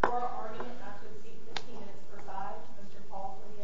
for an argument not to speak 15 minutes for 5, Mr. Paul Sobieta. Mr. Paul Sobieta for an argument not to speak 15 minutes for 5, Mr. Paul Sobieta.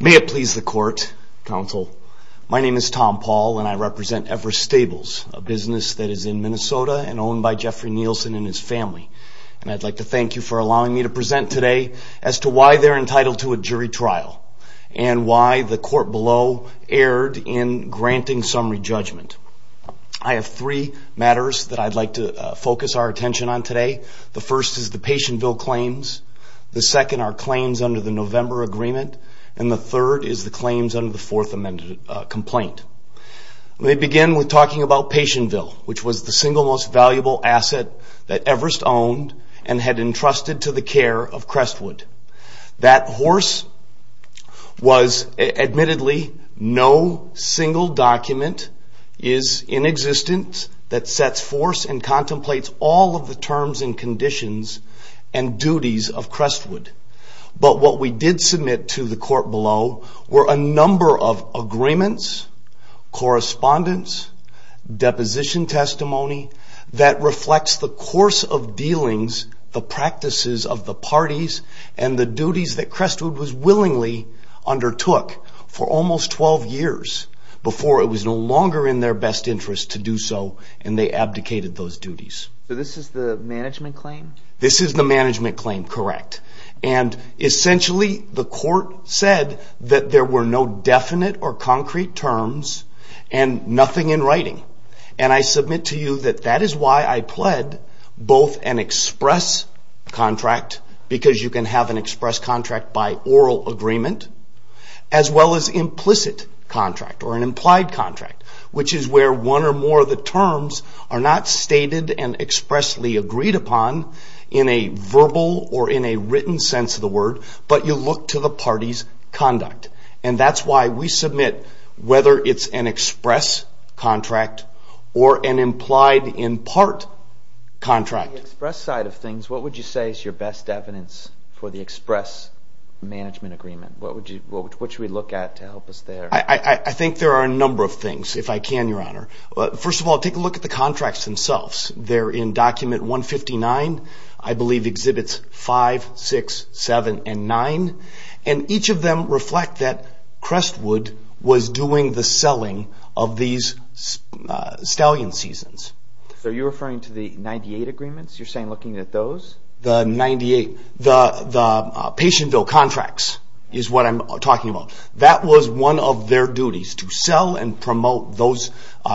May it please the court, counsel, my name is Tom Paul and I represent Everest Stables, a business that is in Minnesota and owned by Jeffrey Nielsen and his family. And I'd like to thank you for allowing me to present today as to why they're entitled to a jury trial and why the court below erred in granting summary judgment. I have three matters that I'd like to focus our attention on today. The first is the Patientville claims. The second are claims under the November agreement. And the third is the claims under the Fourth Amendment complaint. Let me begin with talking about Patientville, which was the single most admittedly no single document is in existence that sets force and contemplates all of the terms and conditions and duties of Crestwood. But what we did submit to the court below were a number of agreements, correspondence, deposition testimony that reflects the course of dealings, the practices of the undertook for almost 12 years before it was no longer in their best interest to do so and they abdicated those duties. So this is the management claim? This is the management claim, correct. And essentially the court said that there were no definite or concrete terms and nothing in writing. And I submit to you that that is why I pled both an express contract, because you can have an express agreement, as well as implicit contract or an implied contract, which is where one or more of the terms are not stated and expressly agreed upon in a verbal or in a written sense of the word, but you look to the party's conduct. And that's why we submit whether it's an express contract or an implied in part contract. On the express side of things, what would you say is your best evidence for the express management agreement? What should we look at to help us there? I think there are a number of things, if I can, Your Honor. First of all, take a look at the contracts themselves. They're in document 159, I believe exhibits 5, 6, 7, and 9, and each of them reflect that Crestwood was doing the selling of these stallion seasons. Are you referring to the 98 agreements? You're saying looking at those? The 98, the patient bill contracts is what I'm talking about. That was one of their duties, to sell and promote those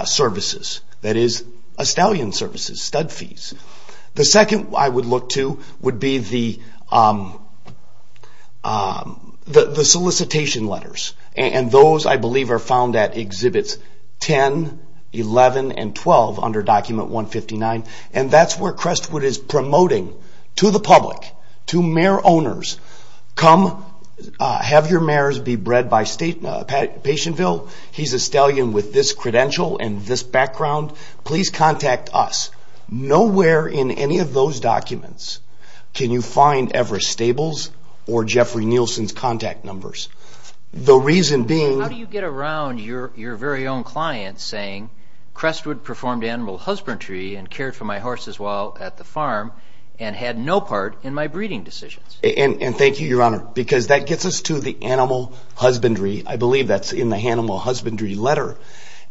services, that is, a stallion services, stud fees. The second I would look to would be the solicitation letters. And those, I believe, are found at exhibits 10, 11, and 12 under document 159. And that's where Crestwood is promoting to the public, to mayor owners, come have your mayors be bred by patient bill. He's a stallion with this credential and this background. Please contact us. Nowhere in any of those documents can you find Everest Stables or Jeffrey Nielsen's contact numbers. The reason being... How do you get around your very own client saying Crestwood performed animal husbandry and cared for my horses while at the farm and had no part in my breeding decisions? And thank you, Your Honor, because that gets us to the animal husbandry. I believe that's in the animal husbandry letter.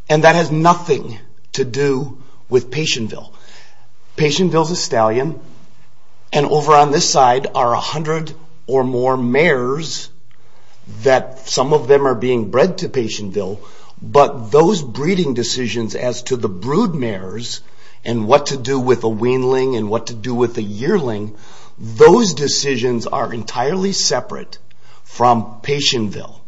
And that has nothing to do with patient bill. Patient bill is a stallion, and over on this side are a hundred or more mayors that some of them are being bred to patient bill, but those breeding decisions as to the brood mayors and what to do with a weanling and what to do with a yearling, those decisions are entirely separate from patient bill.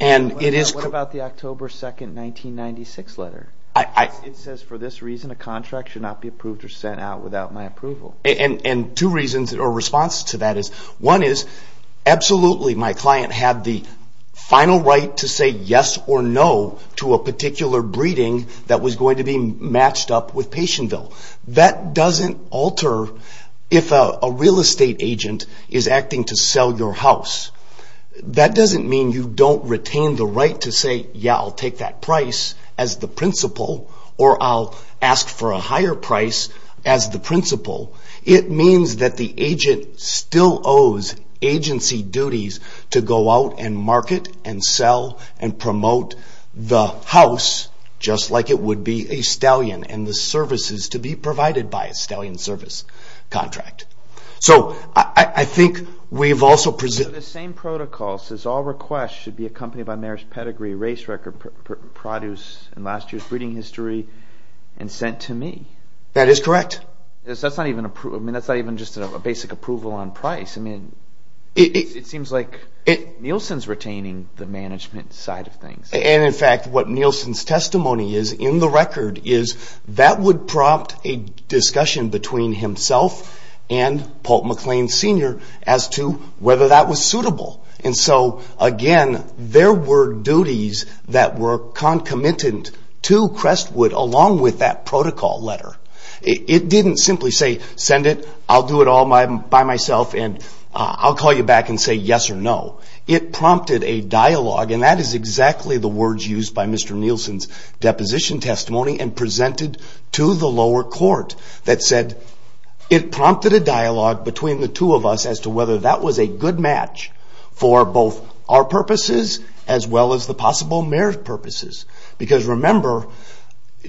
And it is... What about the October 2, 1996 letter? It says, for this reason, a contract should not be approved or sent out without my approval. And two reasons or responses to that is, one is, absolutely, my client had the final right to say yes or no to a particular breeding that was going to be matched up with patient bill. That doesn't alter if a real estate agent is acting to sell your house. That doesn't mean you don't retain the right to say, yeah, I'll take that price as the principal or I'll ask for a higher price as the principal. It means that the agent still owes agency duties to go out and market and sell and promote the house just like it would be a stallion and the services to be provided by a stallion service contract. So I think we've also presented... The same protocol says all requests should be accompanied by mayor's pedigree, race record, produce, and last year's breeding history and sent to me. That is correct. That's not even just a basic approval on price. It seems like Nielsen's retaining the management side of things. In fact, what Nielsen's testimony is in the record is that would prompt a discussion between himself and Paul McLean Sr. as to whether that was suitable. Again, there were duties that were concomitant to Crestwood along with that protocol letter. It didn't simply say send it, I'll do it all by myself and I'll call you back and say yes or no. It prompted a dialogue and that is exactly the words used by Mr. Nielsen's deposition testimony and presented to the lower court that said it prompted a dialogue between the two of us as to whether that was a good match for both our purposes as well as the possible mayor's purposes. Because remember,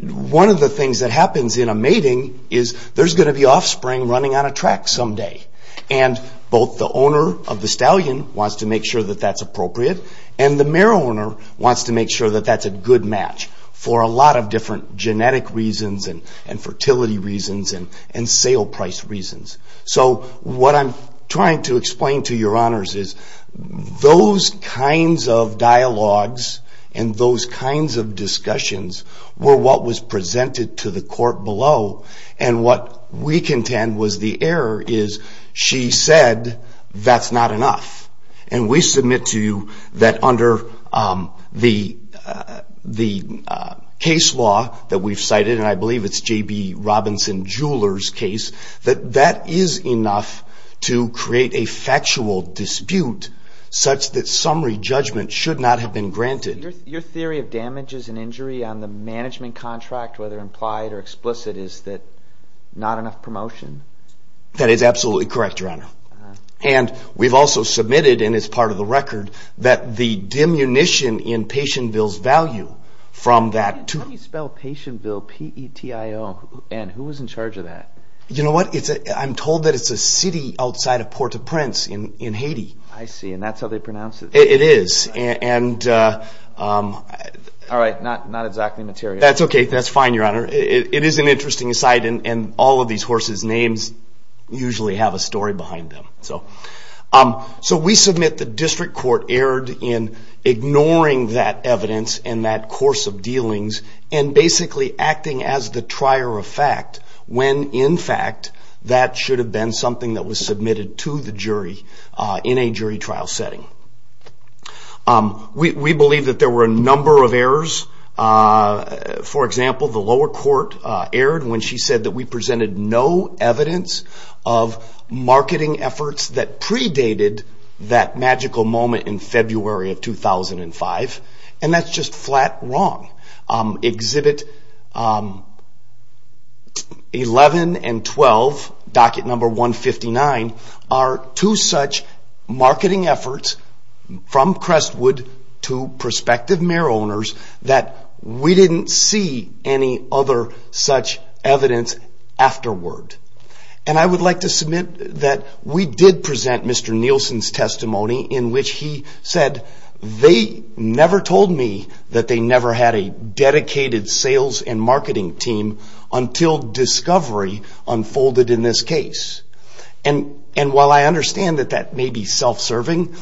one of the things that happens in a mating is there's going to be offspring running on a track someday. And both the owner of the stallion wants to make sure that that's appropriate and the mayor owner wants to make sure that that's a good match for a lot of different genetic reasons and fertility reasons and sale price reasons. So what I'm trying to explain to your honors is those kinds of dialogues and those kinds of discussions were what was presented to the court below. And what we contend was the error is she said that's not enough. And we submit to you that under the case law that we've cited, and I believe it's J.B. Robinson Jeweler's case, that that is enough to create a factual dispute such that summary judgment should not have been granted. Your theory of damages and injury on the management contract, whether implied or explicit, is that not enough promotion? That is absolutely correct, your honor. And we've also submitted, and it's part of the record, that the diminution in patient bill's value from that to... How do you spell patient bill, P-E-T-I-O, and who was in charge of that? You know what, I'm told that it's a city outside of Port-au-Prince in Haiti. I see, and that's how they pronounce it. It is, and... All right, not exactly material. That's okay, that's fine, your honor. It is an interesting site, and all of these horses' names usually have a story behind them. So we submit the district court erred in ignoring that evidence in that course of dealings and basically acting as the trier of fact when, in fact, that should have been something that was submitted to the jury in a jury trial setting. We believe that there were a number of errors. For example, the lower court erred when she said that we presented no evidence of marketing efforts that predated that magical moment in February of 2005, and that's just flat wrong. Exhibit 11 and 12, docket number 159, are two such marketing efforts from Crestwood to prospective mare owners that we didn't see any other such evidence afterward. And I would like to submit that we did present Mr. Nielsen's testimony in which he said, they never told me that they never had a dedicated sales and marketing team until discovery unfolded in this case. And while I understand that that may be self-serving,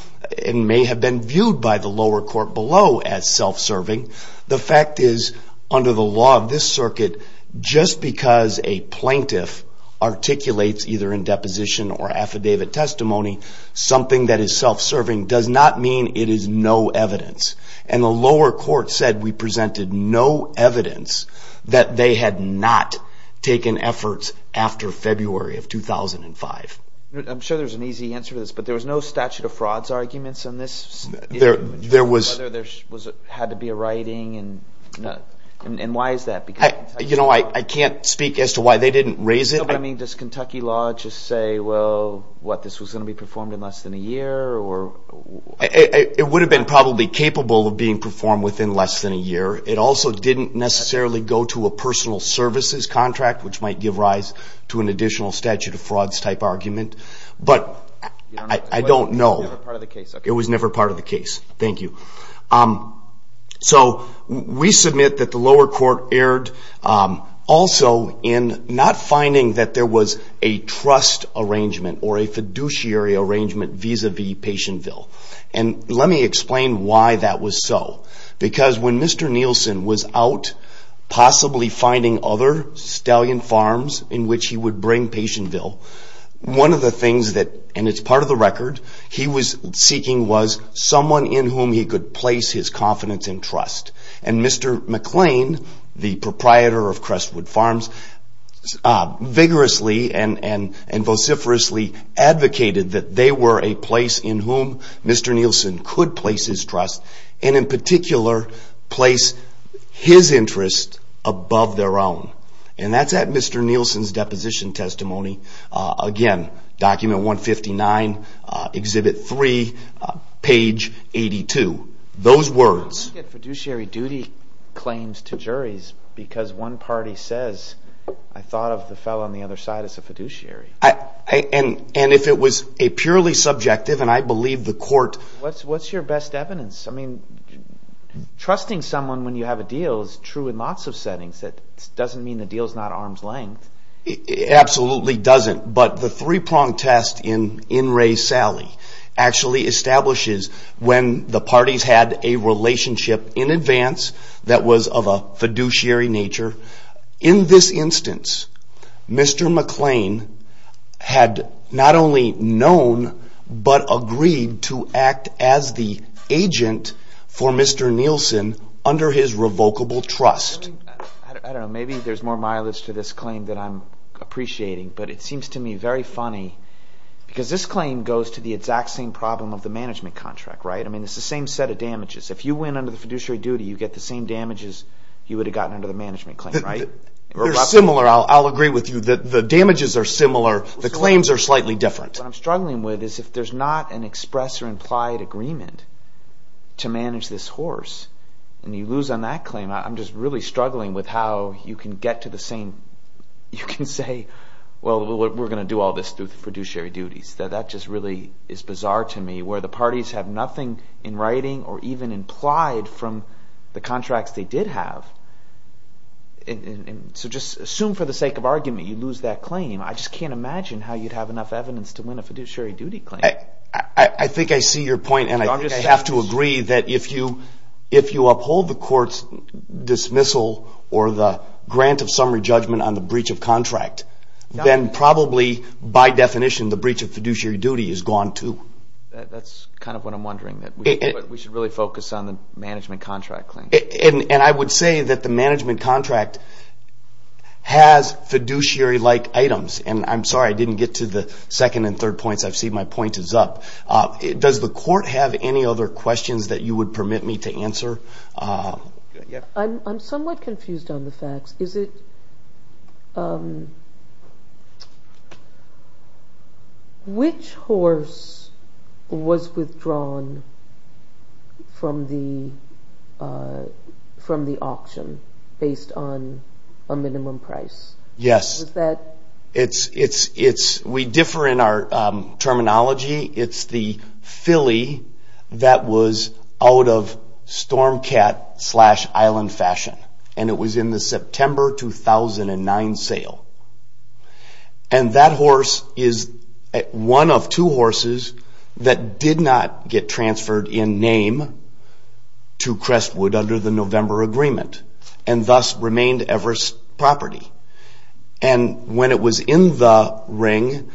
and may have been viewed by the lower court below as self-serving, the fact is, under the law of this circuit, just because a plaintiff articulates either in deposition or affidavit testimony something that is self-serving does not mean it is no evidence. And the lower court said we presented no evidence that they had not taken efforts after February of 2005. I'm sure there's an easy answer to this, but there was no statute of frauds arguments in this? There was. Whether there had to be a writing, and why is that? You know, I can't speak as to why they didn't raise it. Does Kentucky law just say, well, what, this was going to be performed in less than a year? It would have been probably capable of being performed within less than a year. It also didn't necessarily go to a personal services contract, which might give rise to an additional statute of frauds type argument. But I don't know. It was never part of the case. Thank you. So we submit that the lower court erred also in not finding that there was a trust arrangement or a fiduciary arrangement vis-a-vis Patientville. And let me explain why that was so. Because when Mr. Nielsen was out possibly finding other stallion farms in which he would bring Patientville, one of the things that, and it's part of the record, he was seeking was someone in whom he could place his confidence and trust. And Mr. McLean, the proprietor of Crestwood Farms, vigorously and vociferously advocated that they were a place in whom Mr. Nielsen could place his trust and, in particular, place his interest above their own. And that's at Mr. Nielsen's deposition testimony. Again, Document 159, Exhibit 3, Page 82. Those words... I don't get fiduciary duty claims to juries because one party says, I thought of the fellow on the other side as a fiduciary. And if it was a purely subjective, and I believe the court... What's your best evidence? I mean, trusting someone when you have a deal is true in lots of settings. That doesn't mean the deal's not arm's length. It absolutely doesn't. But the three-prong test in In Re Sally actually establishes when the parties had a relationship in advance that was of a fiduciary nature. In this instance, Mr. McLean had not only known but agreed to act as the agent for Mr. Nielsen under his revocable trust. I don't know. Maybe there's more mileage to this claim that I'm appreciating. But it seems to me very funny because this claim goes to the exact same problem of the management contract, right? I mean, it's the same set of damages. If you win under the fiduciary duty, you get the same damages you would have gotten under the management claim, right? They're similar. I'll agree with you. The damages are similar. The claims are slightly different. What I'm struggling with is if there's not an express or implied agreement to manage this horse, and you lose on that claim, I'm just really struggling with how you can get to the same. You can say, well, we're going to do all this through fiduciary duties. That just really is bizarre to me where the parties have nothing in writing or even implied from the contracts they did have. So just assume for the sake of argument you lose that claim. I just can't imagine how you'd have enough evidence to win a fiduciary duty claim. I think I see your point, and I have to agree that if you uphold the court's dismissal or the grant of summary judgment on the breach of contract, then probably by definition the breach of fiduciary duty is gone too. That's kind of what I'm wondering. We should really focus on the management contract claim. I would say that the management contract has fiduciary-like items. I'm sorry I didn't get to the second and third points. I see my point is up. Does the court have any other questions that you would permit me to answer? I'm somewhat confused on the facts. Which horse was withdrawn from the auction based on a minimum price? Yes, we differ in our terminology. It's the filly that was out of Stormcat slash Island Fashion, and it was in the September 2009 sale. That horse is one of two horses that did not get transferred in name to Crestwood under the November agreement and thus remained Everest property. When it was in the ring,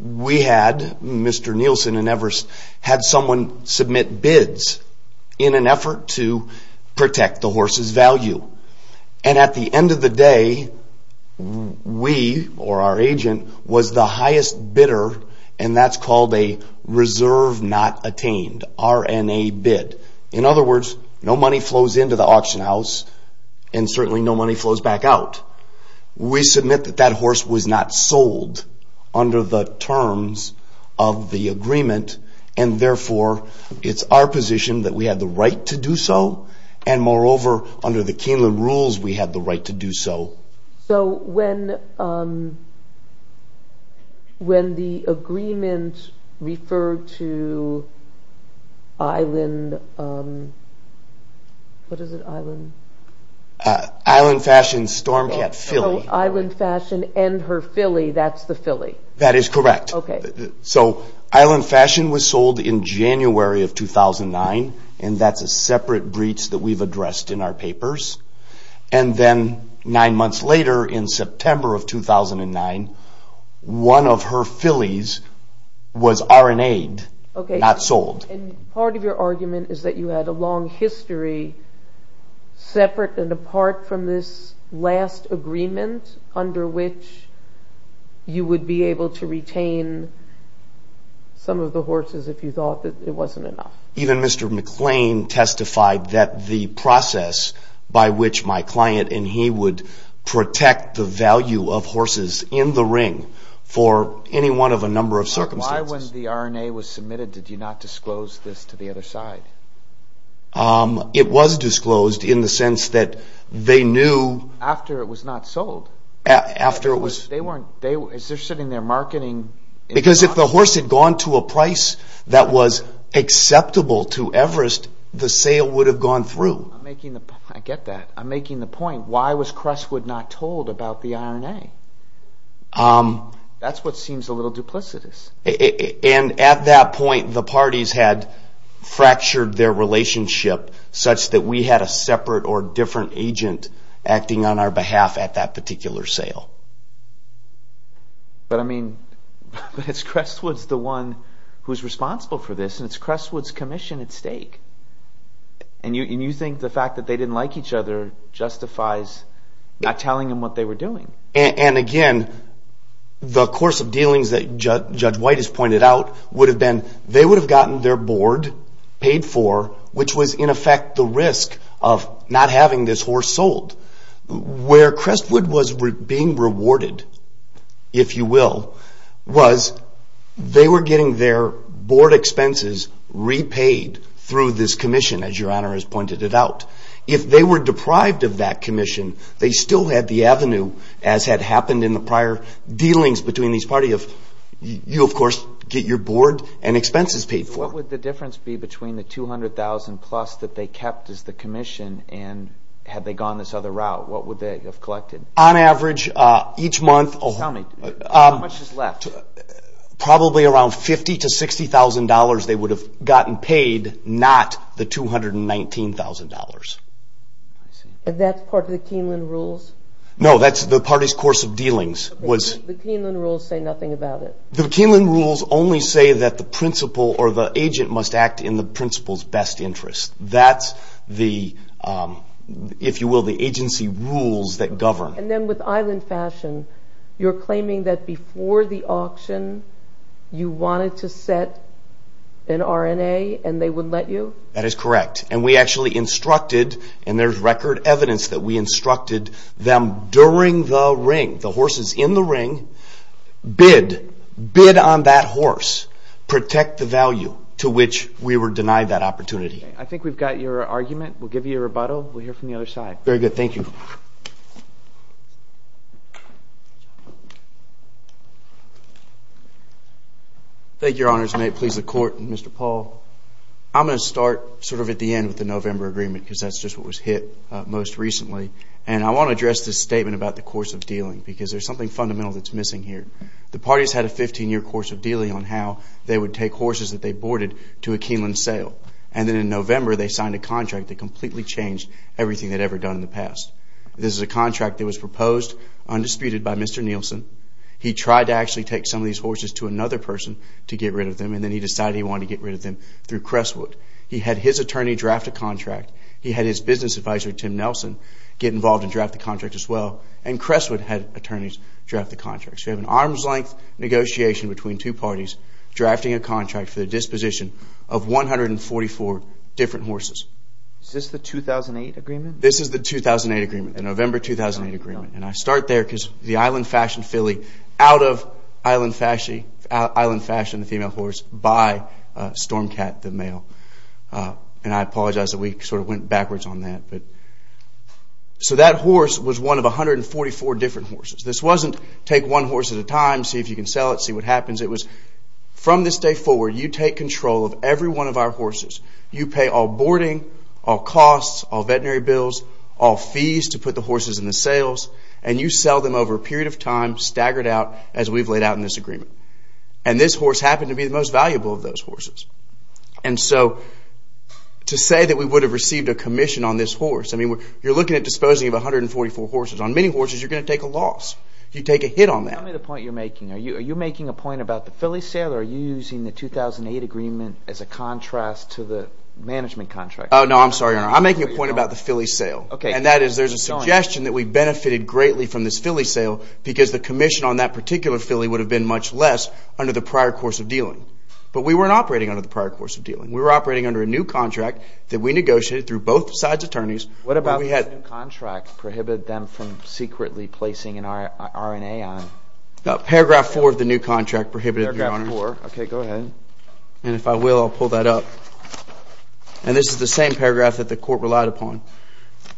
we had, Mr. Nielsen and Everest, had someone submit bids in an effort to protect the horse's value. At the end of the day, we or our agent was the highest bidder, and that's called a reserve not attained, RNA bid. In other words, no money flows into the auction house, and certainly no money flows back out. We submit that that horse was not sold under the terms of the agreement, and therefore it's our position that we had the right to do so, and moreover, under the Keeneland rules, we had the right to do so. When the agreement referred to Island Fashion Stormcat filly. Island Fashion and her filly, that's the filly? That is correct. Island Fashion was sold in January of 2009, and that's a separate breach that we've addressed in our papers. Then nine months later in September of 2009, one of her fillies was RNA'd, not sold. Part of your argument is that you had a long history separate and apart from this last agreement, under which you would be able to retain some of the horses if you thought that it wasn't enough. Even Mr. McClain testified that the process by which my client and he would protect the value of horses in the ring for any one of a number of circumstances. Why when the RNA was submitted did you not disclose this to the other side? It was disclosed in the sense that they knew... After it was not sold? After it was... Is there sitting there marketing... Because if the horse had gone to a price that was acceptable to Everest, the sale would have gone through. I get that. I'm making the point. Why was Crestwood not told about the RNA? That's what seems a little duplicitous. At that point, the parties had fractured their relationship such that we had a separate or different agent acting on our behalf at that particular sale. But, I mean, it's Crestwood's the one who's responsible for this, and it's Crestwood's commission at stake. And you think the fact that they didn't like each other justifies not telling them what they were doing. And, again, the course of dealings that Judge White has pointed out would have been they would have gotten their board paid for, which was, in effect, the risk of not having this horse sold. Where Crestwood was being rewarded, if you will, was they were getting their board expenses repaid through this commission, as Your Honor has pointed it out. If they were deprived of that commission, they still had the avenue, as had happened in the prior dealings between these parties, of you, of course, get your board and expenses paid for. What would the difference be between the $200,000-plus that they kept as the commission and had they gone this other route? What would they have collected? On average, each month... Tell me, how much is left? Probably around $50,000 to $60,000 they would have gotten paid, not the $219,000. I see. And that's part of the Keeneland rules? No, that's the parties' course of dealings. Okay, but the Keeneland rules say nothing about it. The Keeneland rules only say that the principal or the agent must act in the principal's best interest. That's the, if you will, the agency rules that govern. And then with Island Fashion, you're claiming that before the auction, you wanted to set an R&A and they would let you? That is correct, and we actually instructed, and there's record evidence that we instructed them during the ring, the horses in the ring, bid, bid on that horse, protect the value to which we were denied that opportunity. I think we've got your argument. We'll give you a rebuttal. We'll hear from the other side. Very good. Thank you. Thank you, Your Honors, and may it please the Court, Mr. Paul. I'm going to start sort of at the end with the November agreement because that's just what was hit most recently, and I want to address this statement about the course of dealing because there's something fundamental that's missing here. The parties had a 15-year course of dealing on how they would take horses that they boarded to a Keeneland sale, and then in November they signed a contract that completely changed everything they'd ever done in the past. This is a contract that was proposed undisputed by Mr. Nielsen. He tried to actually take some of these horses to another person to get rid of them, and then he decided he wanted to get rid of them through Crestwood. He had his attorney draft a contract. He had his business advisor, Tim Nelson, get involved and draft the contract as well, and Crestwood had attorneys draft the contract. So you have an arm's-length negotiation between two parties, drafting a contract for the disposition of 144 different horses. Is this the 2008 agreement? This is the 2008 agreement, the November 2008 agreement, and I start there because the Island Fashioned Filly, out of Island Fashioned, the female horse, by Stormcat, the male. And I apologize that we sort of went backwards on that. So that horse was one of 144 different horses. This wasn't take one horse at a time, see if you can sell it, see what happens. It was from this day forward you take control of every one of our horses. You pay all boarding, all costs, all veterinary bills, all fees to put the horses in the sales, and you sell them over a period of time staggered out as we've laid out in this agreement. And this horse happened to be the most valuable of those horses. And so to say that we would have received a commission on this horse, I mean you're looking at disposing of 144 horses. On many horses you're going to take a loss. You take a hit on that. Tell me the point you're making. Are you making a point about the filly sale, or are you using the 2008 agreement as a contrast to the management contract? Oh, no, I'm sorry, Your Honor. I'm making a point about the filly sale. Okay. And that is there's a suggestion that we benefited greatly from this filly sale because the commission on that particular filly would have been much less under the prior course of dealing. But we weren't operating under the prior course of dealing. We were operating under a new contract that we negotiated through both sides' attorneys. What about the new contract prohibited them from secretly placing an RNA on it? Paragraph 4 of the new contract prohibited it, Your Honor. Paragraph 4. Okay, go ahead. And if I will, I'll pull that up. And this is the same paragraph that the court relied upon.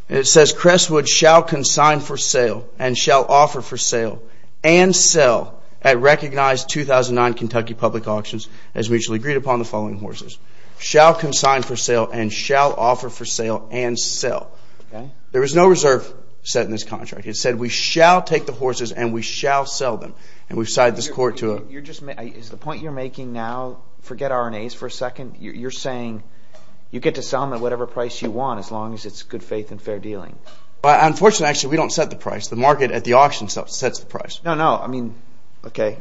And it says, Crestwood shall consign for sale and shall offer for sale and sell at recognized 2009 Kentucky public auctions as mutually agreed upon the following horses. Shall consign for sale and shall offer for sale and sell. Okay. There is no reserve set in this contract. It said we shall take the horses and we shall sell them. And we've signed this court to a You're just making Is the point you're making now, forget RNAs for a second, you're saying you get to sell them at whatever price you want as long as it's good faith and fair dealing. Unfortunately, actually, we don't set the price. The market at the auction sets the price. No, no, I mean, okay,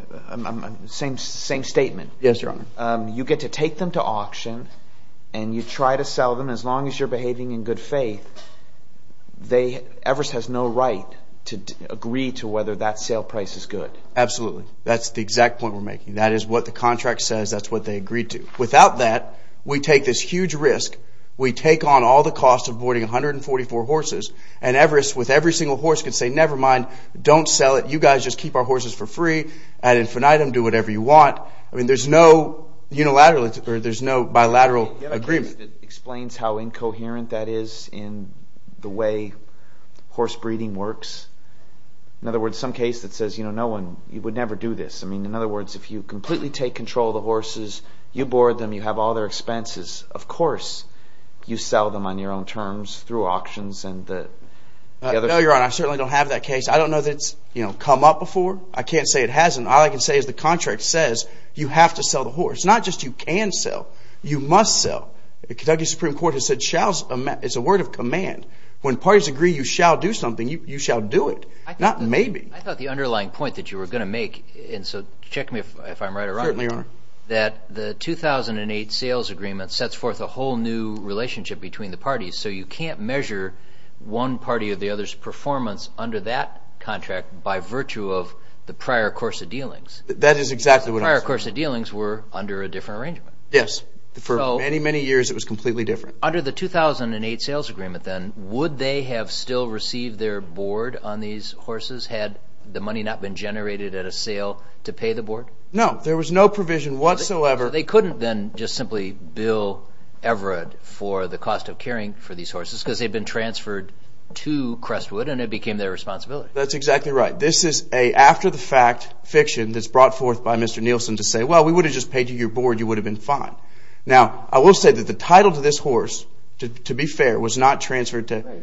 same statement. Yes, Your Honor. You get to take them to auction and you try to sell them as long as you're behaving in good faith. They, Everest has no right to agree to whether that sale price is good. Absolutely. That's the exact point we're making. That is what the contract says. That's what they agreed to. Without that, we take this huge risk. We take on all the costs of boarding 144 horses. And Everest with every single horse could say, never mind, don't sell it. You guys just keep our horses for free. Add infinitum, do whatever you want. I mean, there's no unilateral or there's no bilateral agreement. Do you have a case that explains how incoherent that is in the way horse breeding works? In other words, some case that says, you know, no one, you would never do this. I mean, in other words, if you completely take control of the horses, you board them, you have all their expenses, of course you sell them on your own terms through auctions and the other things. No, Your Honor, I certainly don't have that case. I don't know that it's come up before. I can't say it hasn't. All I can say is the contract says you have to sell the horse, not just you can sell, you must sell. The Kentucky Supreme Court has said it's a word of command. When parties agree you shall do something, you shall do it, not maybe. I thought the underlying point that you were going to make, and so check me if I'm right or wrong. Certainly, Your Honor. That the 2008 sales agreement sets forth a whole new relationship between the parties. So you can't measure one party or the other's performance under that contract by virtue of the prior course of dealings. That is exactly what I'm saying. Prior course of dealings were under a different arrangement. Yes. For many, many years it was completely different. Under the 2008 sales agreement then, would they have still received their board on these horses had the money not been generated at a sale to pay the board? No. There was no provision whatsoever. They couldn't then just simply bill Everett for the cost of caring for these horses because they'd been transferred to Crestwood and it became their responsibility. That's exactly right. This is an after-the-fact fiction that's brought forth by Mr. Nielsen to say, well, we would have just paid you your board, you would have been fine. Now, I will say that the title to this horse, to be fair, was not transferred to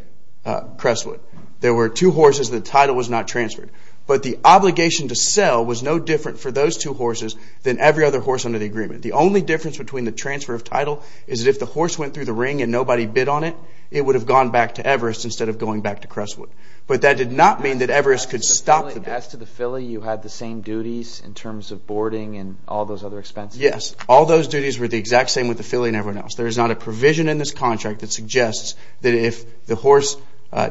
Crestwood. There were two horses and the title was not transferred. But the obligation to sell was no different for those two horses than every other horse under the agreement. The only difference between the transfer of title is that if the horse went through the ring and nobody bid on it, it would have gone back to Everest instead of going back to Crestwood. But that did not mean that Everest could stop the bidding. As to the filly, you had the same duties in terms of boarding and all those other expenses? Yes. All those duties were the exact same with the filly and everyone else. There is not a provision in this contract that suggests that if the horse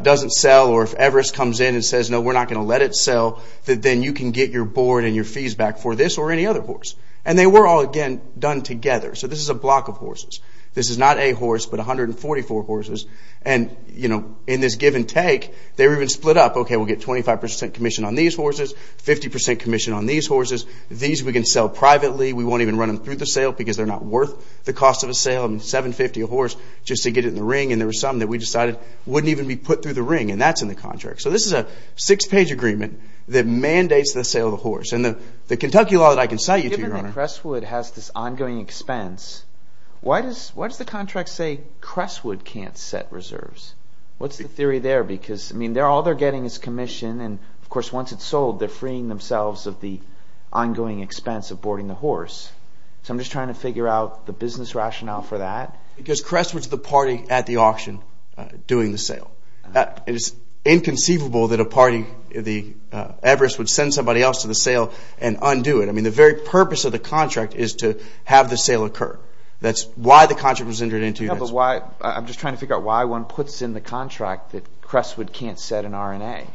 doesn't sell or if Everest comes in and says, no, we're not going to let it sell, that then you can get your board and your fees back for this or any other horse. And they were all, again, done together. So this is a block of horses. This is not a horse but 144 horses. And in this give and take, they were even split up. Okay, we'll get 25% commission on these horses, 50% commission on these horses. These we can sell privately. We won't even run them through the sale because they're not worth the cost of a sale. I mean, $750 a horse just to get it in the ring. And there were some that we decided wouldn't even be put through the ring, and that's in the contract. So this is a six-page agreement that mandates the sale of the horse. And the Kentucky law that I can cite you to, Your Honor. Given that Crestwood has this ongoing expense, why does the contract say Crestwood can't set reserves? What's the theory there? Because, I mean, all they're getting is commission. And, of course, once it's sold, they're freeing themselves of the ongoing expense of boarding the horse. So I'm just trying to figure out the business rationale for that. Because Crestwood's the party at the auction doing the sale. It is inconceivable that a party, the Everest, would send somebody else to the sale and undo it. I mean, the very purpose of the contract is to have the sale occur. That's why the contract was entered into. I'm just trying to figure out why one puts in the contract that Crestwood can't set an R&A.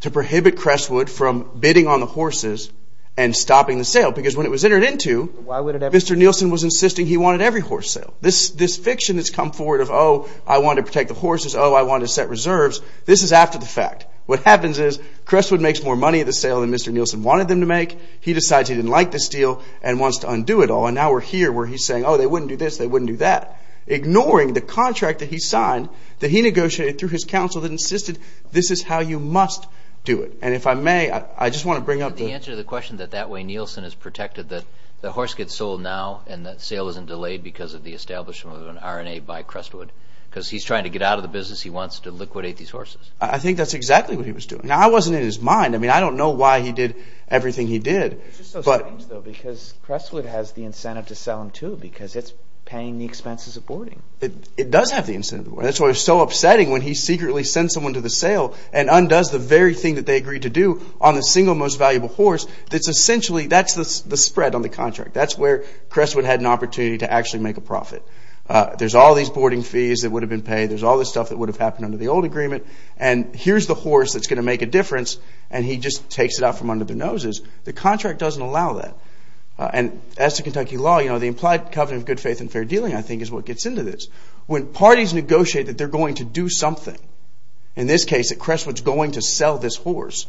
To prohibit Crestwood from bidding on the horses and stopping the sale. Because when it was entered into, Mr. Nielsen was insisting he wanted every horse sold. This fiction that's come forward of, oh, I want to protect the horses. Oh, I want to set reserves. This is after the fact. What happens is Crestwood makes more money at the sale than Mr. Nielsen wanted them to make. He decides he didn't like this deal and wants to undo it all. And now we're here where he's saying, oh, they wouldn't do this, they wouldn't do that. Ignoring the contract that he signed that he negotiated through his counsel that insisted this is how you must do it. And if I may, I just want to bring up the answer to the question that that way Nielsen is protected. That the horse gets sold now and that sale isn't delayed because of the establishment of an R&A by Crestwood. Because he's trying to get out of the business. He wants to liquidate these horses. I think that's exactly what he was doing. Now, I wasn't in his mind. I mean, I don't know why he did everything he did. It's just so strange, though, because Crestwood has the incentive to sell them, too, because it's paying the expenses of boarding. It does have the incentive. That's why it was so upsetting when he secretly sent someone to the sale and undoes the very thing that they agreed to do on the single most valuable horse. That's essentially, that's the spread on the contract. That's where Crestwood had an opportunity to actually make a profit. There's all these boarding fees that would have been paid. There's all this stuff that would have happened under the old agreement. And here's the horse that's going to make a difference. And he just takes it out from under the noses. The contract doesn't allow that. And as to Kentucky law, you know, the implied covenant of good faith and fair dealing, I think, is what gets into this. When parties negotiate that they're going to do something, in this case, that Crestwood's going to sell this horse,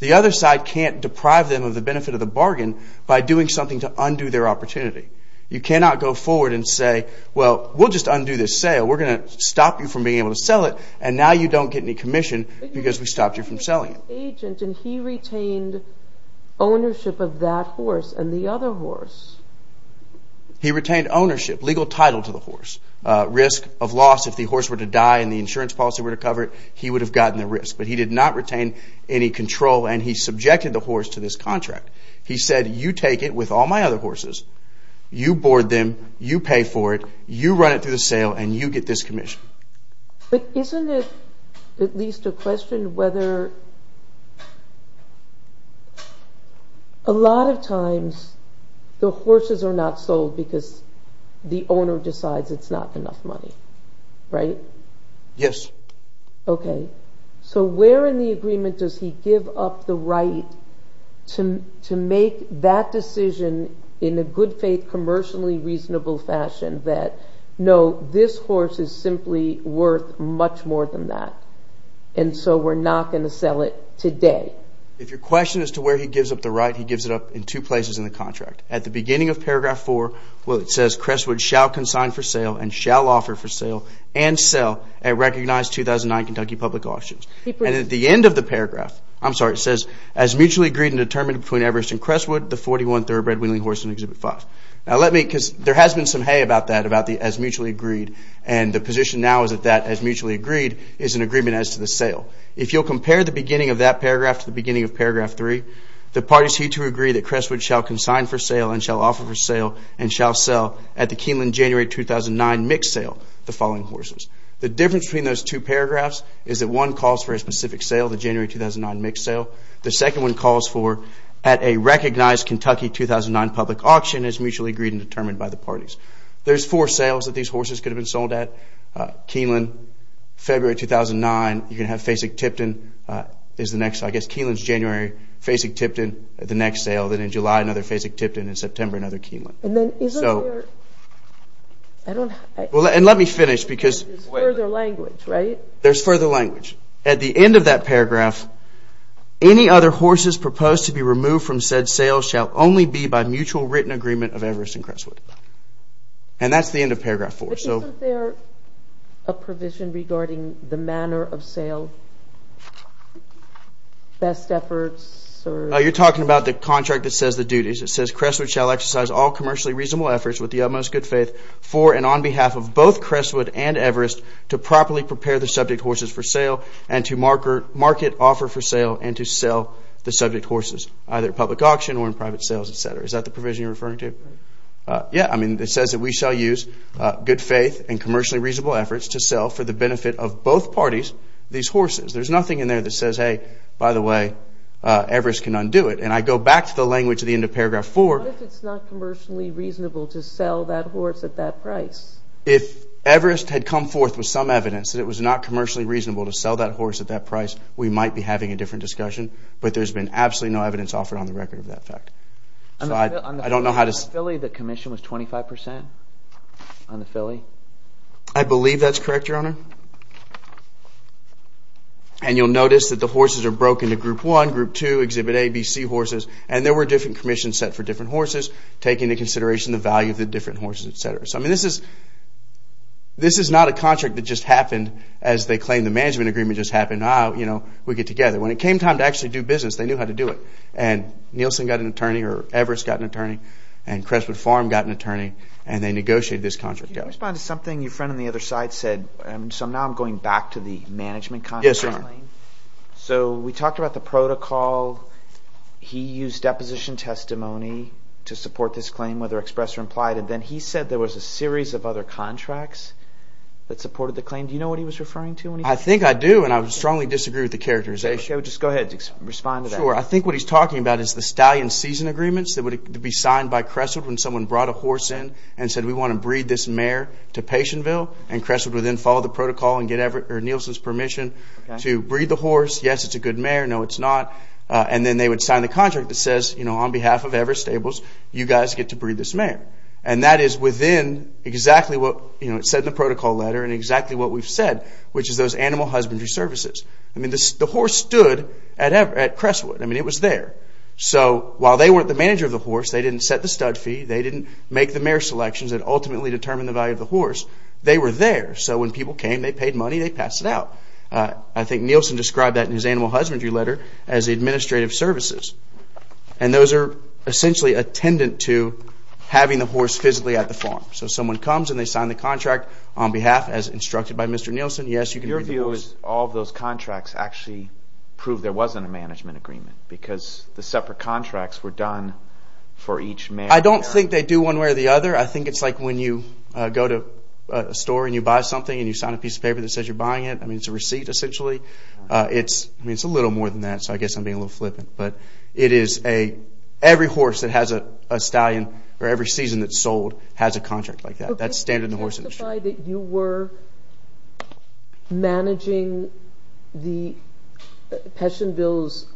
the other side can't deprive them of the benefit of the bargain by doing something to undo their opportunity. You cannot go forward and say, well, we'll just undo this sale. We're going to stop you from being able to sell it. And now you don't get any commission because we stopped you from selling it. He retained ownership of that horse and the other horse. He retained ownership, legal title to the horse, risk of loss. If the horse were to die and the insurance policy were to cover it, he would have gotten the risk. But he did not retain any control and he subjected the horse to this contract. He said, you take it with all my other horses. You board them. You pay for it. You run it through the sale and you get this commission. But isn't it at least a question whether a lot of times the horses are not sold because the owner decides it's not enough money, right? Yes. Okay. So where in the agreement does he give up the right to make that decision in a good faith, commercially reasonable fashion that, no, this horse is simply worth much more than that? And so we're not going to sell it today. If your question is to where he gives up the right, he gives it up in two places in the contract. At the beginning of Paragraph 4 where it says, Crestwood shall consign for sale and shall offer for sale and sell at recognized 2009 Kentucky Public Auctions. And at the end of the paragraph, I'm sorry, it says, as mutually agreed and determined between Everest and Crestwood, the 41 third-bred Wheeling horse in Exhibit 5. Now let me, because there has been some hay about that, about the as mutually agreed, and the position now is that that as mutually agreed is an agreement as to the sale. If you'll compare the beginning of that paragraph to the beginning of Paragraph 3, the parties here to agree that Crestwood shall consign for sale and shall offer for sale and shall sell at the Keeneland January 2009 mix sale, the following horses. The difference between those two paragraphs is that one calls for a specific sale, the January 2009 mix sale. The second one calls for at a recognized Kentucky 2009 Public Auction as mutually agreed and determined by the parties. There's four sales that these horses could have been sold at. Keeneland February 2009, you're going to have Fasig-Tipton is the next, I guess Keeneland's January, Fasig-Tipton the next sale. Then in July, another Fasig-Tipton. In September, another Keeneland. And then isn't there, I don't. And let me finish because. There's further language, right? There's further language. At the end of that paragraph, any other horses proposed to be removed from said sale shall only be by mutual written agreement of Everest and Crestwood. And that's the end of Paragraph 4. Isn't there a provision regarding the manner of sale? Best efforts? You're talking about the contract that says the duties. It says Crestwood shall exercise all commercially reasonable efforts with the utmost good faith for and on behalf of both Crestwood and Everest to properly prepare the subject horses for sale and to market offer for sale and to sell the subject horses. Either public auction or in private sales, et cetera. Is that the provision you're referring to? Yeah, I mean, it says that we shall use good faith and commercially reasonable efforts to sell for the benefit of both parties these horses. There's nothing in there that says, hey, by the way, Everest can undo it. And I go back to the language at the end of Paragraph 4. What if it's not commercially reasonable to sell that horse at that price? If Everest had come forth with some evidence that it was not commercially reasonable to sell that horse at that price, we might be having a different discussion. But there's been absolutely no evidence offered on the record of that fact. On the Philly, the commission was 25 percent on the Philly. I believe that's correct, Your Honor. And you'll notice that the horses are broken into Group 1, Group 2, Exhibit A, B, C horses. And there were different commissions set for different horses, taking into consideration the value of the different horses, et cetera. So, I mean, this is not a contract that just happened as they claim the management agreement just happened. Ah, you know, we get together. When it came time to actually do business, they knew how to do it. And Nielsen got an attorney, or Everest got an attorney, and Crestwood Farm got an attorney, and they negotiated this contract out. Can you respond to something your friend on the other side said? So now I'm going back to the management contract claim. Yes, Your Honor. So we talked about the protocol. He used deposition testimony to support this claim, whether expressed or implied. And then he said there was a series of other contracts that supported the claim. Do you know what he was referring to when he said that? I think I do, and I strongly disagree with the characterization. Okay, well, just go ahead. Respond to that. Sure. I think what he's talking about is the stallion season agreements that would be signed by Crestwood when someone brought a horse in and said we want to breed this mare to Patienville, and Crestwood would then follow the protocol and get Nielsen's permission to breed the horse. Yes, it's a good mare. No, it's not. And then they would sign the contract that says, you know, on behalf of Everest Stables, you guys get to breed this mare. And that is within exactly what, you know, it said in the protocol letter and exactly what we've said, which is those animal husbandry services. I mean, the horse stood at Crestwood. I mean, it was there. So while they weren't the manager of the horse, they didn't set the stud fee, they didn't make the mare selections that ultimately determined the value of the horse, they were there. So when people came, they paid money, they passed it out. I think Nielsen described that in his animal husbandry letter as administrative services. And those are essentially attendant to having the horse physically at the farm. So someone comes and they sign the contract on behalf, as instructed by Mr. Nielsen, yes, you can breed the horse. Did all of those contracts actually prove there wasn't a management agreement? Because the separate contracts were done for each mare. I don't think they do one way or the other. I think it's like when you go to a store and you buy something and you sign a piece of paper that says you're buying it. I mean, it's a receipt essentially. I mean, it's a little more than that, so I guess I'm being a little flippant. But it is a – every horse that has a stallion or every season that's sold has a contract like that. That's standard in the horse industry. Could you testify that you were managing the – Peschenbill's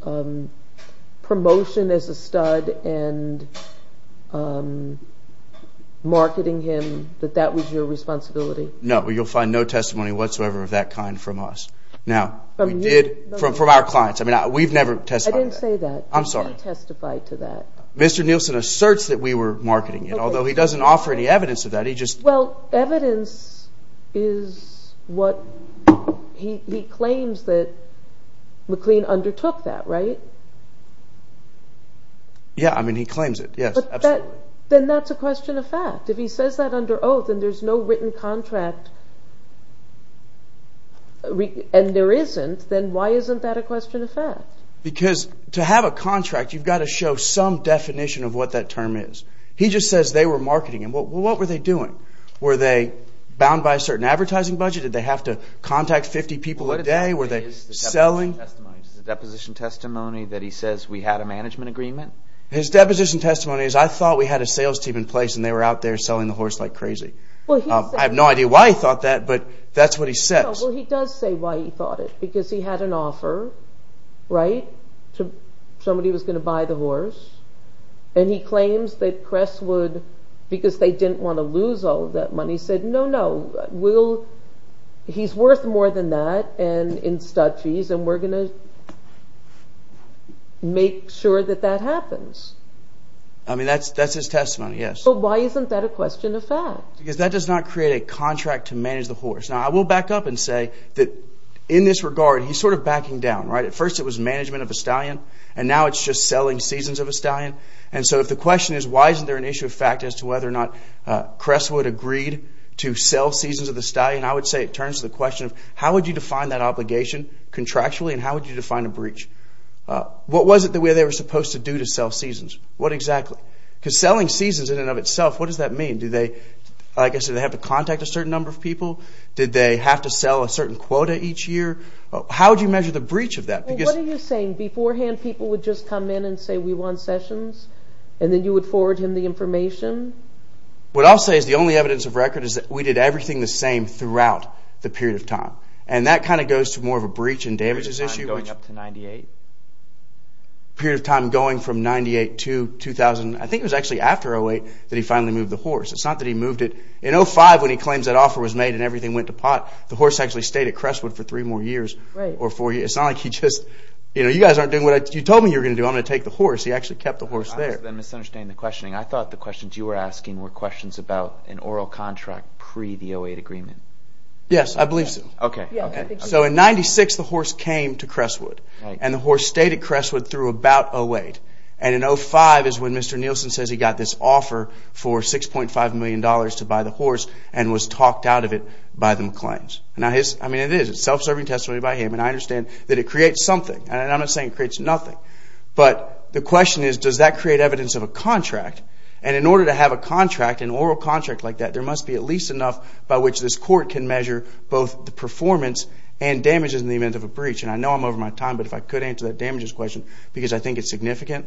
promotion as a stud and marketing him, that that was your responsibility? No. You'll find no testimony whatsoever of that kind from us. Now, we did – from our clients. I mean, we've never testified to that. I didn't say that. I'm sorry. You didn't testify to that. Mr. Nielsen asserts that we were marketing it, although he doesn't offer any evidence of that. He just – Well, evidence is what – he claims that McLean undertook that, right? Yeah. I mean, he claims it. Yes, absolutely. But that – then that's a question of fact. If he says that under oath and there's no written contract and there isn't, then why isn't that a question of fact? Because to have a contract, you've got to show some definition of what that term is. He just says they were marketing him. Well, what were they doing? Were they bound by a certain advertising budget? Did they have to contact 50 people a day? Were they selling? Is the deposition testimony that he says we had a management agreement? His deposition testimony is I thought we had a sales team in place and they were out there selling the horse like crazy. I have no idea why he thought that, but that's what he says. Well, he does say why he thought it, because he had an offer, right, to somebody who was going to buy the horse, and he claims that press would, because they didn't want to lose all of that money, said, no, no, we'll – he's worth more than that in stud fees and we're going to make sure that that happens. I mean, that's his testimony, yes. So why isn't that a question of fact? Because that does not create a contract to manage the horse. Now, I will back up and say that in this regard, he's sort of backing down, right? At first it was management of a stallion, and now it's just selling seasons of a stallion. And so if the question is why isn't there an issue of fact as to whether or not Cresswood agreed to sell seasons of the stallion, I would say it turns to the question of how would you define that obligation contractually, and how would you define a breach? What was it that they were supposed to do to sell seasons? What exactly? Because selling seasons in and of itself, what does that mean? Do they, like I said, have to contact a certain number of people? Did they have to sell a certain quota each year? How would you measure the breach of that? What are you saying? Beforehand people would just come in and say we want sessions, and then you would forward him the information? What I'll say is the only evidence of record is that we did everything the same throughout the period of time. And that kind of goes to more of a breach and damages issue. Period of time going up to 1998? Period of time going from 1998 to 2000. I think it was actually after 08 that he finally moved the horse. It's not that he moved it. In 05 when he claims that offer was made and everything went to pot, the horse actually stayed at Crestwood for three more years or four years. It's not like he just, you know, you guys aren't doing what I, you told me you were going to do. I'm going to take the horse. He actually kept the horse there. I must have been misunderstanding the questioning. I thought the questions you were asking were questions about an oral contract pre the 08 agreement. Yes, I believe so. Okay. So in 96 the horse came to Crestwood. And the horse stayed at Crestwood through about 08. And in 05 is when Mr. Nielsen says he got this offer for $6.5 million to buy the horse and was talked out of it by the McLeans. I mean, it is. It's self-serving testimony by him. And I understand that it creates something. And I'm not saying it creates nothing. But the question is, does that create evidence of a contract? And in order to have a contract, an oral contract like that, there must be at least enough by which this court can measure both the performance and damages in the event of a breach. And I know I'm over my time, but if I could answer that damages question because I think it's significant,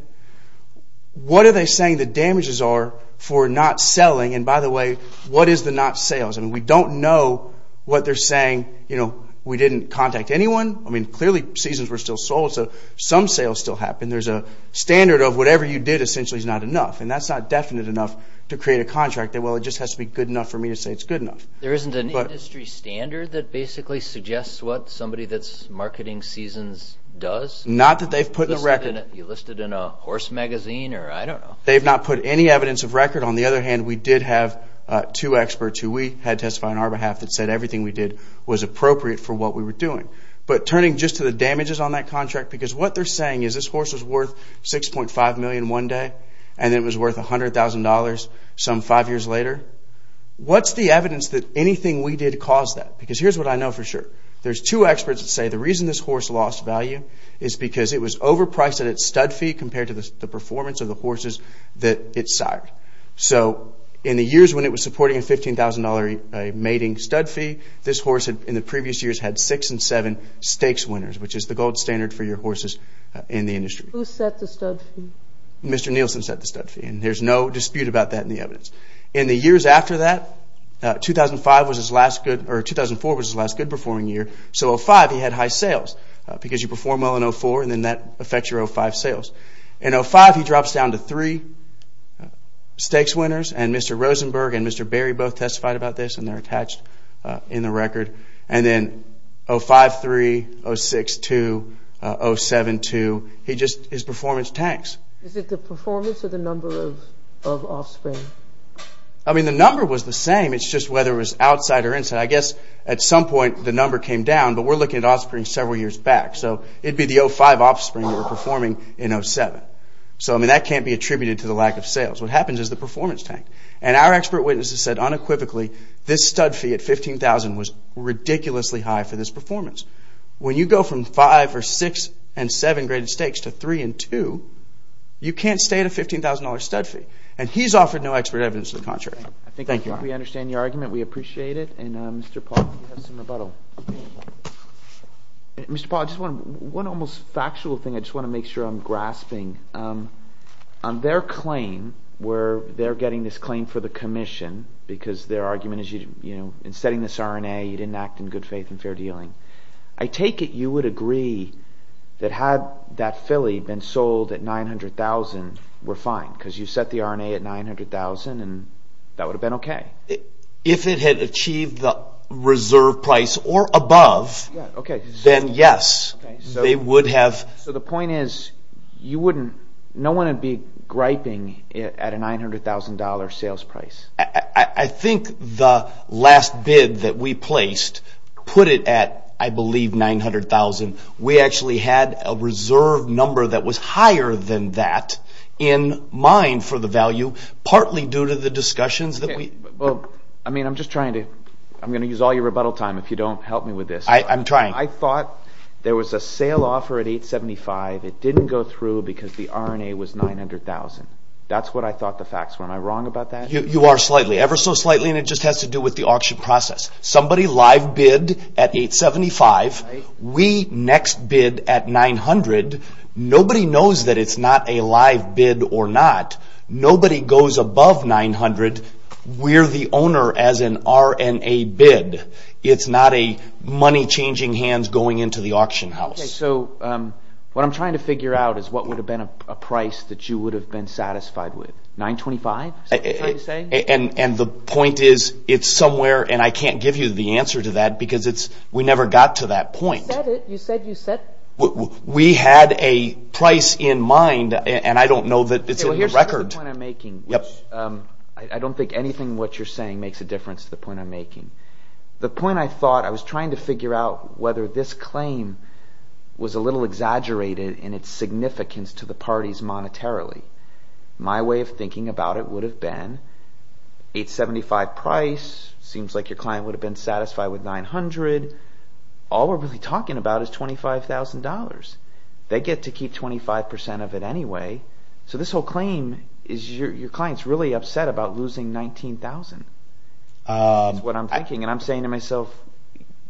what are they saying the damages are for not selling? And by the way, what is the not sales? I mean, we don't know what they're saying. You know, we didn't contact anyone. I mean, clearly seasons were still sold, so some sales still happened. There's a standard of whatever you did essentially is not enough. And that's not definite enough to create a contract. Well, it just has to be good enough for me to say it's good enough. There isn't an industry standard that basically suggests what somebody that's marketing seasons does? Not that they've put the record. You listed in a horse magazine or I don't know. They've not put any evidence of record. On the other hand, we did have two experts who we had testify on our behalf that said everything we did was appropriate for what we were doing. But turning just to the damages on that contract, because what they're saying is this horse was worth $6.5 million one day and it was worth $100,000 some five years later. What's the evidence that anything we did caused that? Because here's what I know for sure. There's two experts that say the reason this horse lost value is because it was overpriced at its stud fee compared to the performance of the horses that it sired. So in the years when it was supporting a $15,000 mating stud fee, this horse in the previous years had six and seven stakes winners, which is the gold standard for your horses in the industry. Who set the stud fee? Mr. Nielsen set the stud fee, and there's no dispute about that in the evidence. In the years after that, 2004 was his last good performing year. So in 2005, he had high sales because you perform well in 2004, and then that affects your 2005 sales. In 2005, he drops down to three stakes winners, and Mr. Rosenberg and Mr. Berry both testified about this, and they're attached in the record. And then in 2005-2003, 2006-2002, 2007-2002, his performance tanks. Is it the performance or the number of offspring? I mean, the number was the same. It's just whether it was outside or inside. I guess at some point the number came down, but we're looking at offspring several years back. So it would be the 05 offspring that were performing in 07. So, I mean, that can't be attributed to the lack of sales. What happens is the performance tank. And our expert witnesses said unequivocally this stud fee at $15,000 was ridiculously high for this performance. When you go from five or six and seven graded stakes to three and two, you can't stay at a $15,000 stud fee. And he's offered no expert evidence to the contrary. Thank you. I think we understand your argument. We appreciate it. And, Mr. Paul, if you have some rebuttal. Mr. Paul, just one almost factual thing I just want to make sure I'm grasping. On their claim where they're getting this claim for the commission because their argument is, you know, in studying this RNA, you didn't act in good faith and fair dealing. I take it you would agree that had that filly been sold at $900,000, we're fine. Because you set the RNA at $900,000 and that would have been okay. If it had achieved the reserve price or above, then, yes, they would have. So the point is you wouldn't – no one would be griping at a $900,000 sales price. I think the last bid that we placed put it at, I believe, $900,000. We actually had a reserve number that was higher than that in mind for the value, partly due to the discussions that we – Well, I mean, I'm just trying to – I'm going to use all your rebuttal time if you don't help me with this. I'm trying. I thought there was a sale offer at $875,000. It didn't go through because the RNA was $900,000. That's what I thought the facts were. Am I wrong about that? You are slightly, ever so slightly, and it just has to do with the auction process. Somebody live bid at $875,000. We next bid at $900,000. Nobody knows that it's not a live bid or not. Nobody goes above $900,000. We're the owner as an RNA bid. It's not a money-changing hands going into the auction house. Okay, so what I'm trying to figure out is what would have been a price that you would have been satisfied with. $925,000? Is that what you're trying to say? And the point is it's somewhere, and I can't give you the answer to that because we never got to that point. You said it. You said you set – We had a price in mind, and I don't know that it's in the record. Okay, well, here's the point I'm making, which I don't think anything what you're saying makes a difference to the point I'm making. The point I thought – I was trying to figure out whether this claim was a little exaggerated in its significance to the parties monetarily. My way of thinking about it would have been $875,000 price. It seems like your client would have been satisfied with $900,000. All we're really talking about is $25,000. They get to keep 25% of it anyway, so this whole claim is your client's really upset about losing $19,000.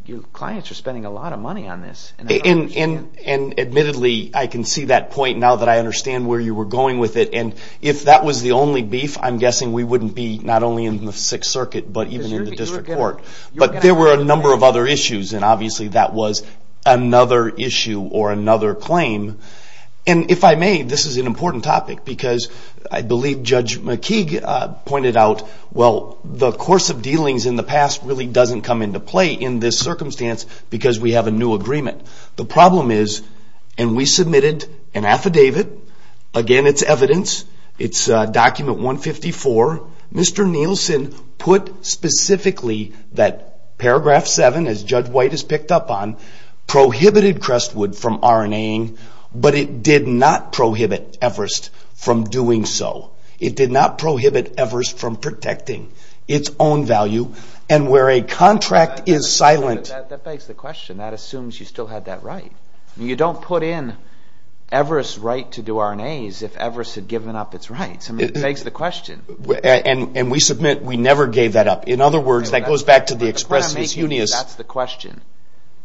Your clients are spending a lot of money on this. And admittedly, I can see that point now that I understand where you were going with it. And if that was the only beef, I'm guessing we wouldn't be not only in the Sixth Circuit but even in the district court. But there were a number of other issues, and obviously that was another issue or another claim. And if I may, this is an important topic because I believe Judge McKeague pointed out, well, the course of dealings in the past really doesn't come into play in this circumstance because we have a new agreement. The problem is – and we submitted an affidavit. Again, it's evidence. It's Document 154. Mr. Nielsen put specifically that Paragraph 7, as Judge White has picked up on, prohibited Crestwood from RNA-ing, but it did not prohibit Everest from doing so. It did not prohibit Everest from protecting its own value. And where a contract is silent – That begs the question. That assumes you still had that right. You don't put in Everest's right to do RNAs if Everest had given up its rights. I mean, it begs the question. And we submit we never gave that up. In other words, that goes back to the expressness. That's the question.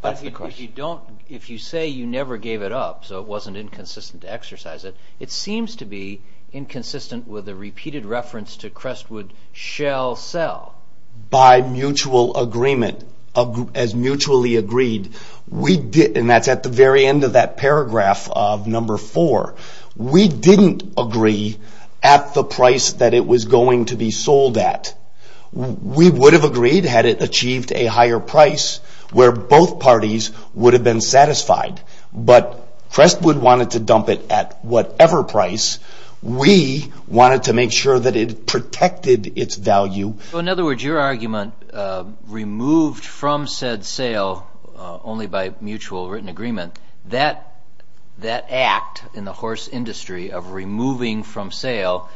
But if you say you never gave it up, so it wasn't inconsistent to exercise it, it seems to be inconsistent with a repeated reference to Crestwood shall sell. By mutual agreement, as mutually agreed, and that's at the very end of that paragraph of Number 4, we didn't agree at the price that it was going to be sold at. We would have agreed had it achieved a higher price where both parties would have been satisfied. But Crestwood wanted to dump it at whatever price. We wanted to make sure that it protected its value. In other words, your argument, removed from said sale only by mutual written agreement, that act in the horse industry of removing from sale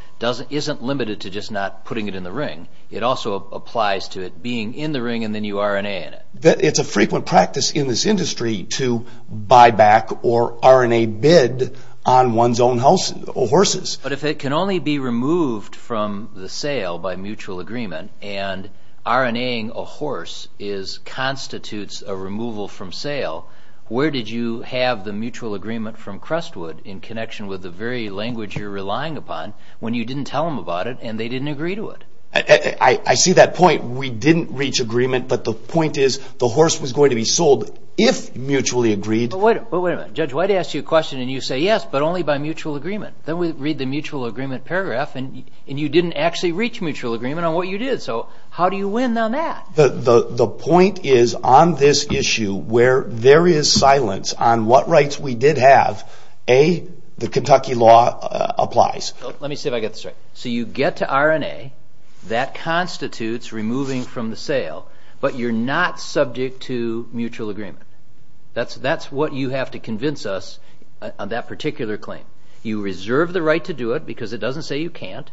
isn't limited to just not putting it in the ring. It also applies to it being in the ring and then you RNA in it. It's a frequent practice in this industry to buy back or RNA bid on one's own horses. But if it can only be removed from the sale by mutual agreement and RNAing a horse constitutes a removal from sale, where did you have the mutual agreement from Crestwood in connection with the very language you're relying upon when you didn't tell them about it and they didn't agree to it? I see that point. We didn't reach agreement, but the point is the horse was going to be sold if mutually agreed. But wait a minute. Judge White asked you a question and you say yes, but only by mutual agreement. Then we read the mutual agreement paragraph and you didn't actually reach mutual agreement on what you did. So how do you win on that? The point is on this issue where there is silence on what rights we did have, A, the Kentucky law applies. Let me see if I get this right. So you get to RNA. That constitutes removing from the sale, but you're not subject to mutual agreement. That's what you have to convince us on that particular claim. You reserve the right to do it because it doesn't say you can't,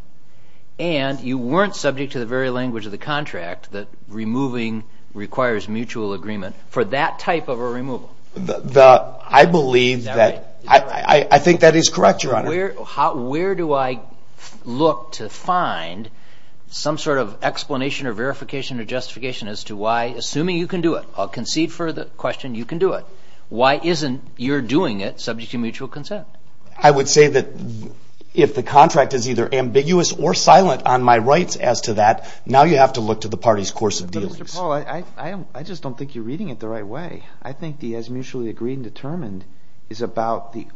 and you weren't subject to the very language of the contract that removing requires mutual agreement for that type of a removal. I believe that. I think that is correct, Your Honor. Where do I look to find some sort of explanation or verification or justification as to why, assuming you can do it, I'll concede for the question you can do it, why isn't your doing it subject to mutual consent? I would say that if the contract is either ambiguous or silent on my rights as to that, now you have to look to the party's course of dealings. But, Mr. Paul, I just don't think you're reading it the right way. I think the as mutually agreed and determined is about the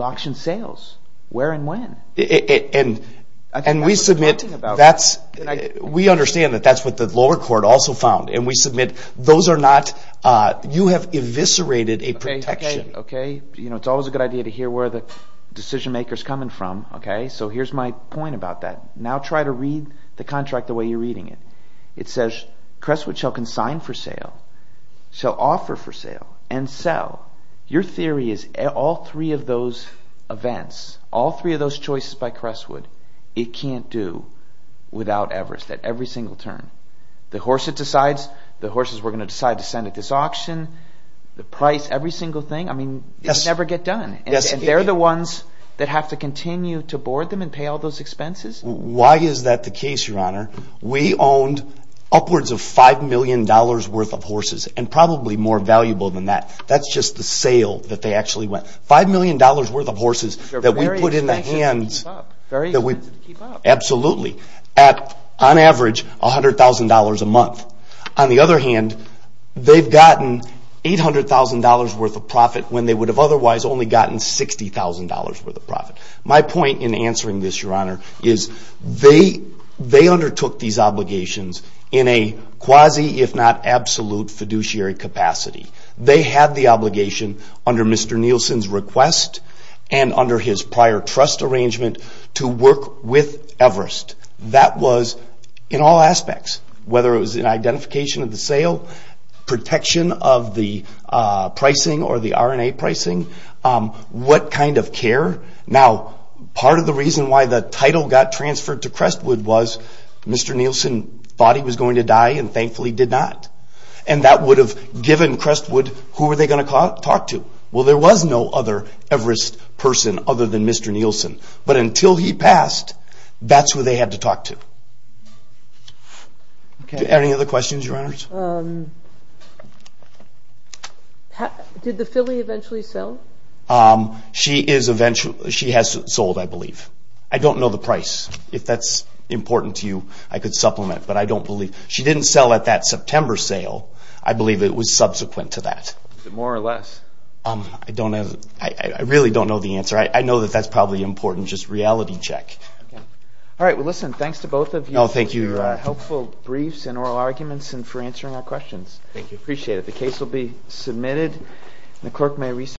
auction sales, where and when. And we submit that's – we understand that that's what the lower court also found, and we submit those are not – you have eviscerated a protection. Okay, it's always a good idea to hear where the decision-maker is coming from. So here's my point about that. Now try to read the contract the way you're reading it. It says, Crestwood shall consign for sale, shall offer for sale, and sell. Your theory is all three of those events, all three of those choices by Crestwood, it can't do without Everest at every single turn. The horse it decides, the horses we're going to decide to send at this auction, the price, every single thing, I mean, it can never get done. And they're the ones that have to continue to board them and pay all those expenses? Why is that the case, Your Honor? We owned upwards of $5 million worth of horses, and probably more valuable than that. That's just the sale that they actually went. $5 million worth of horses that we put in the hands. Very expensive to keep up. Absolutely. At, on average, $100,000 a month. On the other hand, they've gotten $800,000 worth of profit when they would have otherwise only gotten $60,000 worth of profit. My point in answering this, Your Honor, is they undertook these obligations in a quasi, if not absolute, fiduciary capacity. They had the obligation under Mr. Nielsen's request and under his prior trust arrangement to work with Everest. That was in all aspects, whether it was in identification of the sale, protection of the pricing or the RNA pricing, what kind of care. Now, part of the reason why the title got transferred to Crestwood was Mr. Nielsen thought he was going to die and thankfully did not. And that would have given Crestwood, who were they going to talk to? Well, there was no other Everest person other than Mr. Nielsen. But until he passed, that's who they had to talk to. Any other questions, Your Honors? Did the filly eventually sell? She has sold, I believe. I don't know the price. If that's important to you, I could supplement, but I don't believe. She didn't sell at that September sale. I believe it was subsequent to that. Is it more or less? I really don't know the answer. I know that that's probably important, just reality check. All right, well, listen, thanks to both of you for your helpful briefs and oral arguments and for answering our questions. Thank you. Appreciate it. The case will be submitted.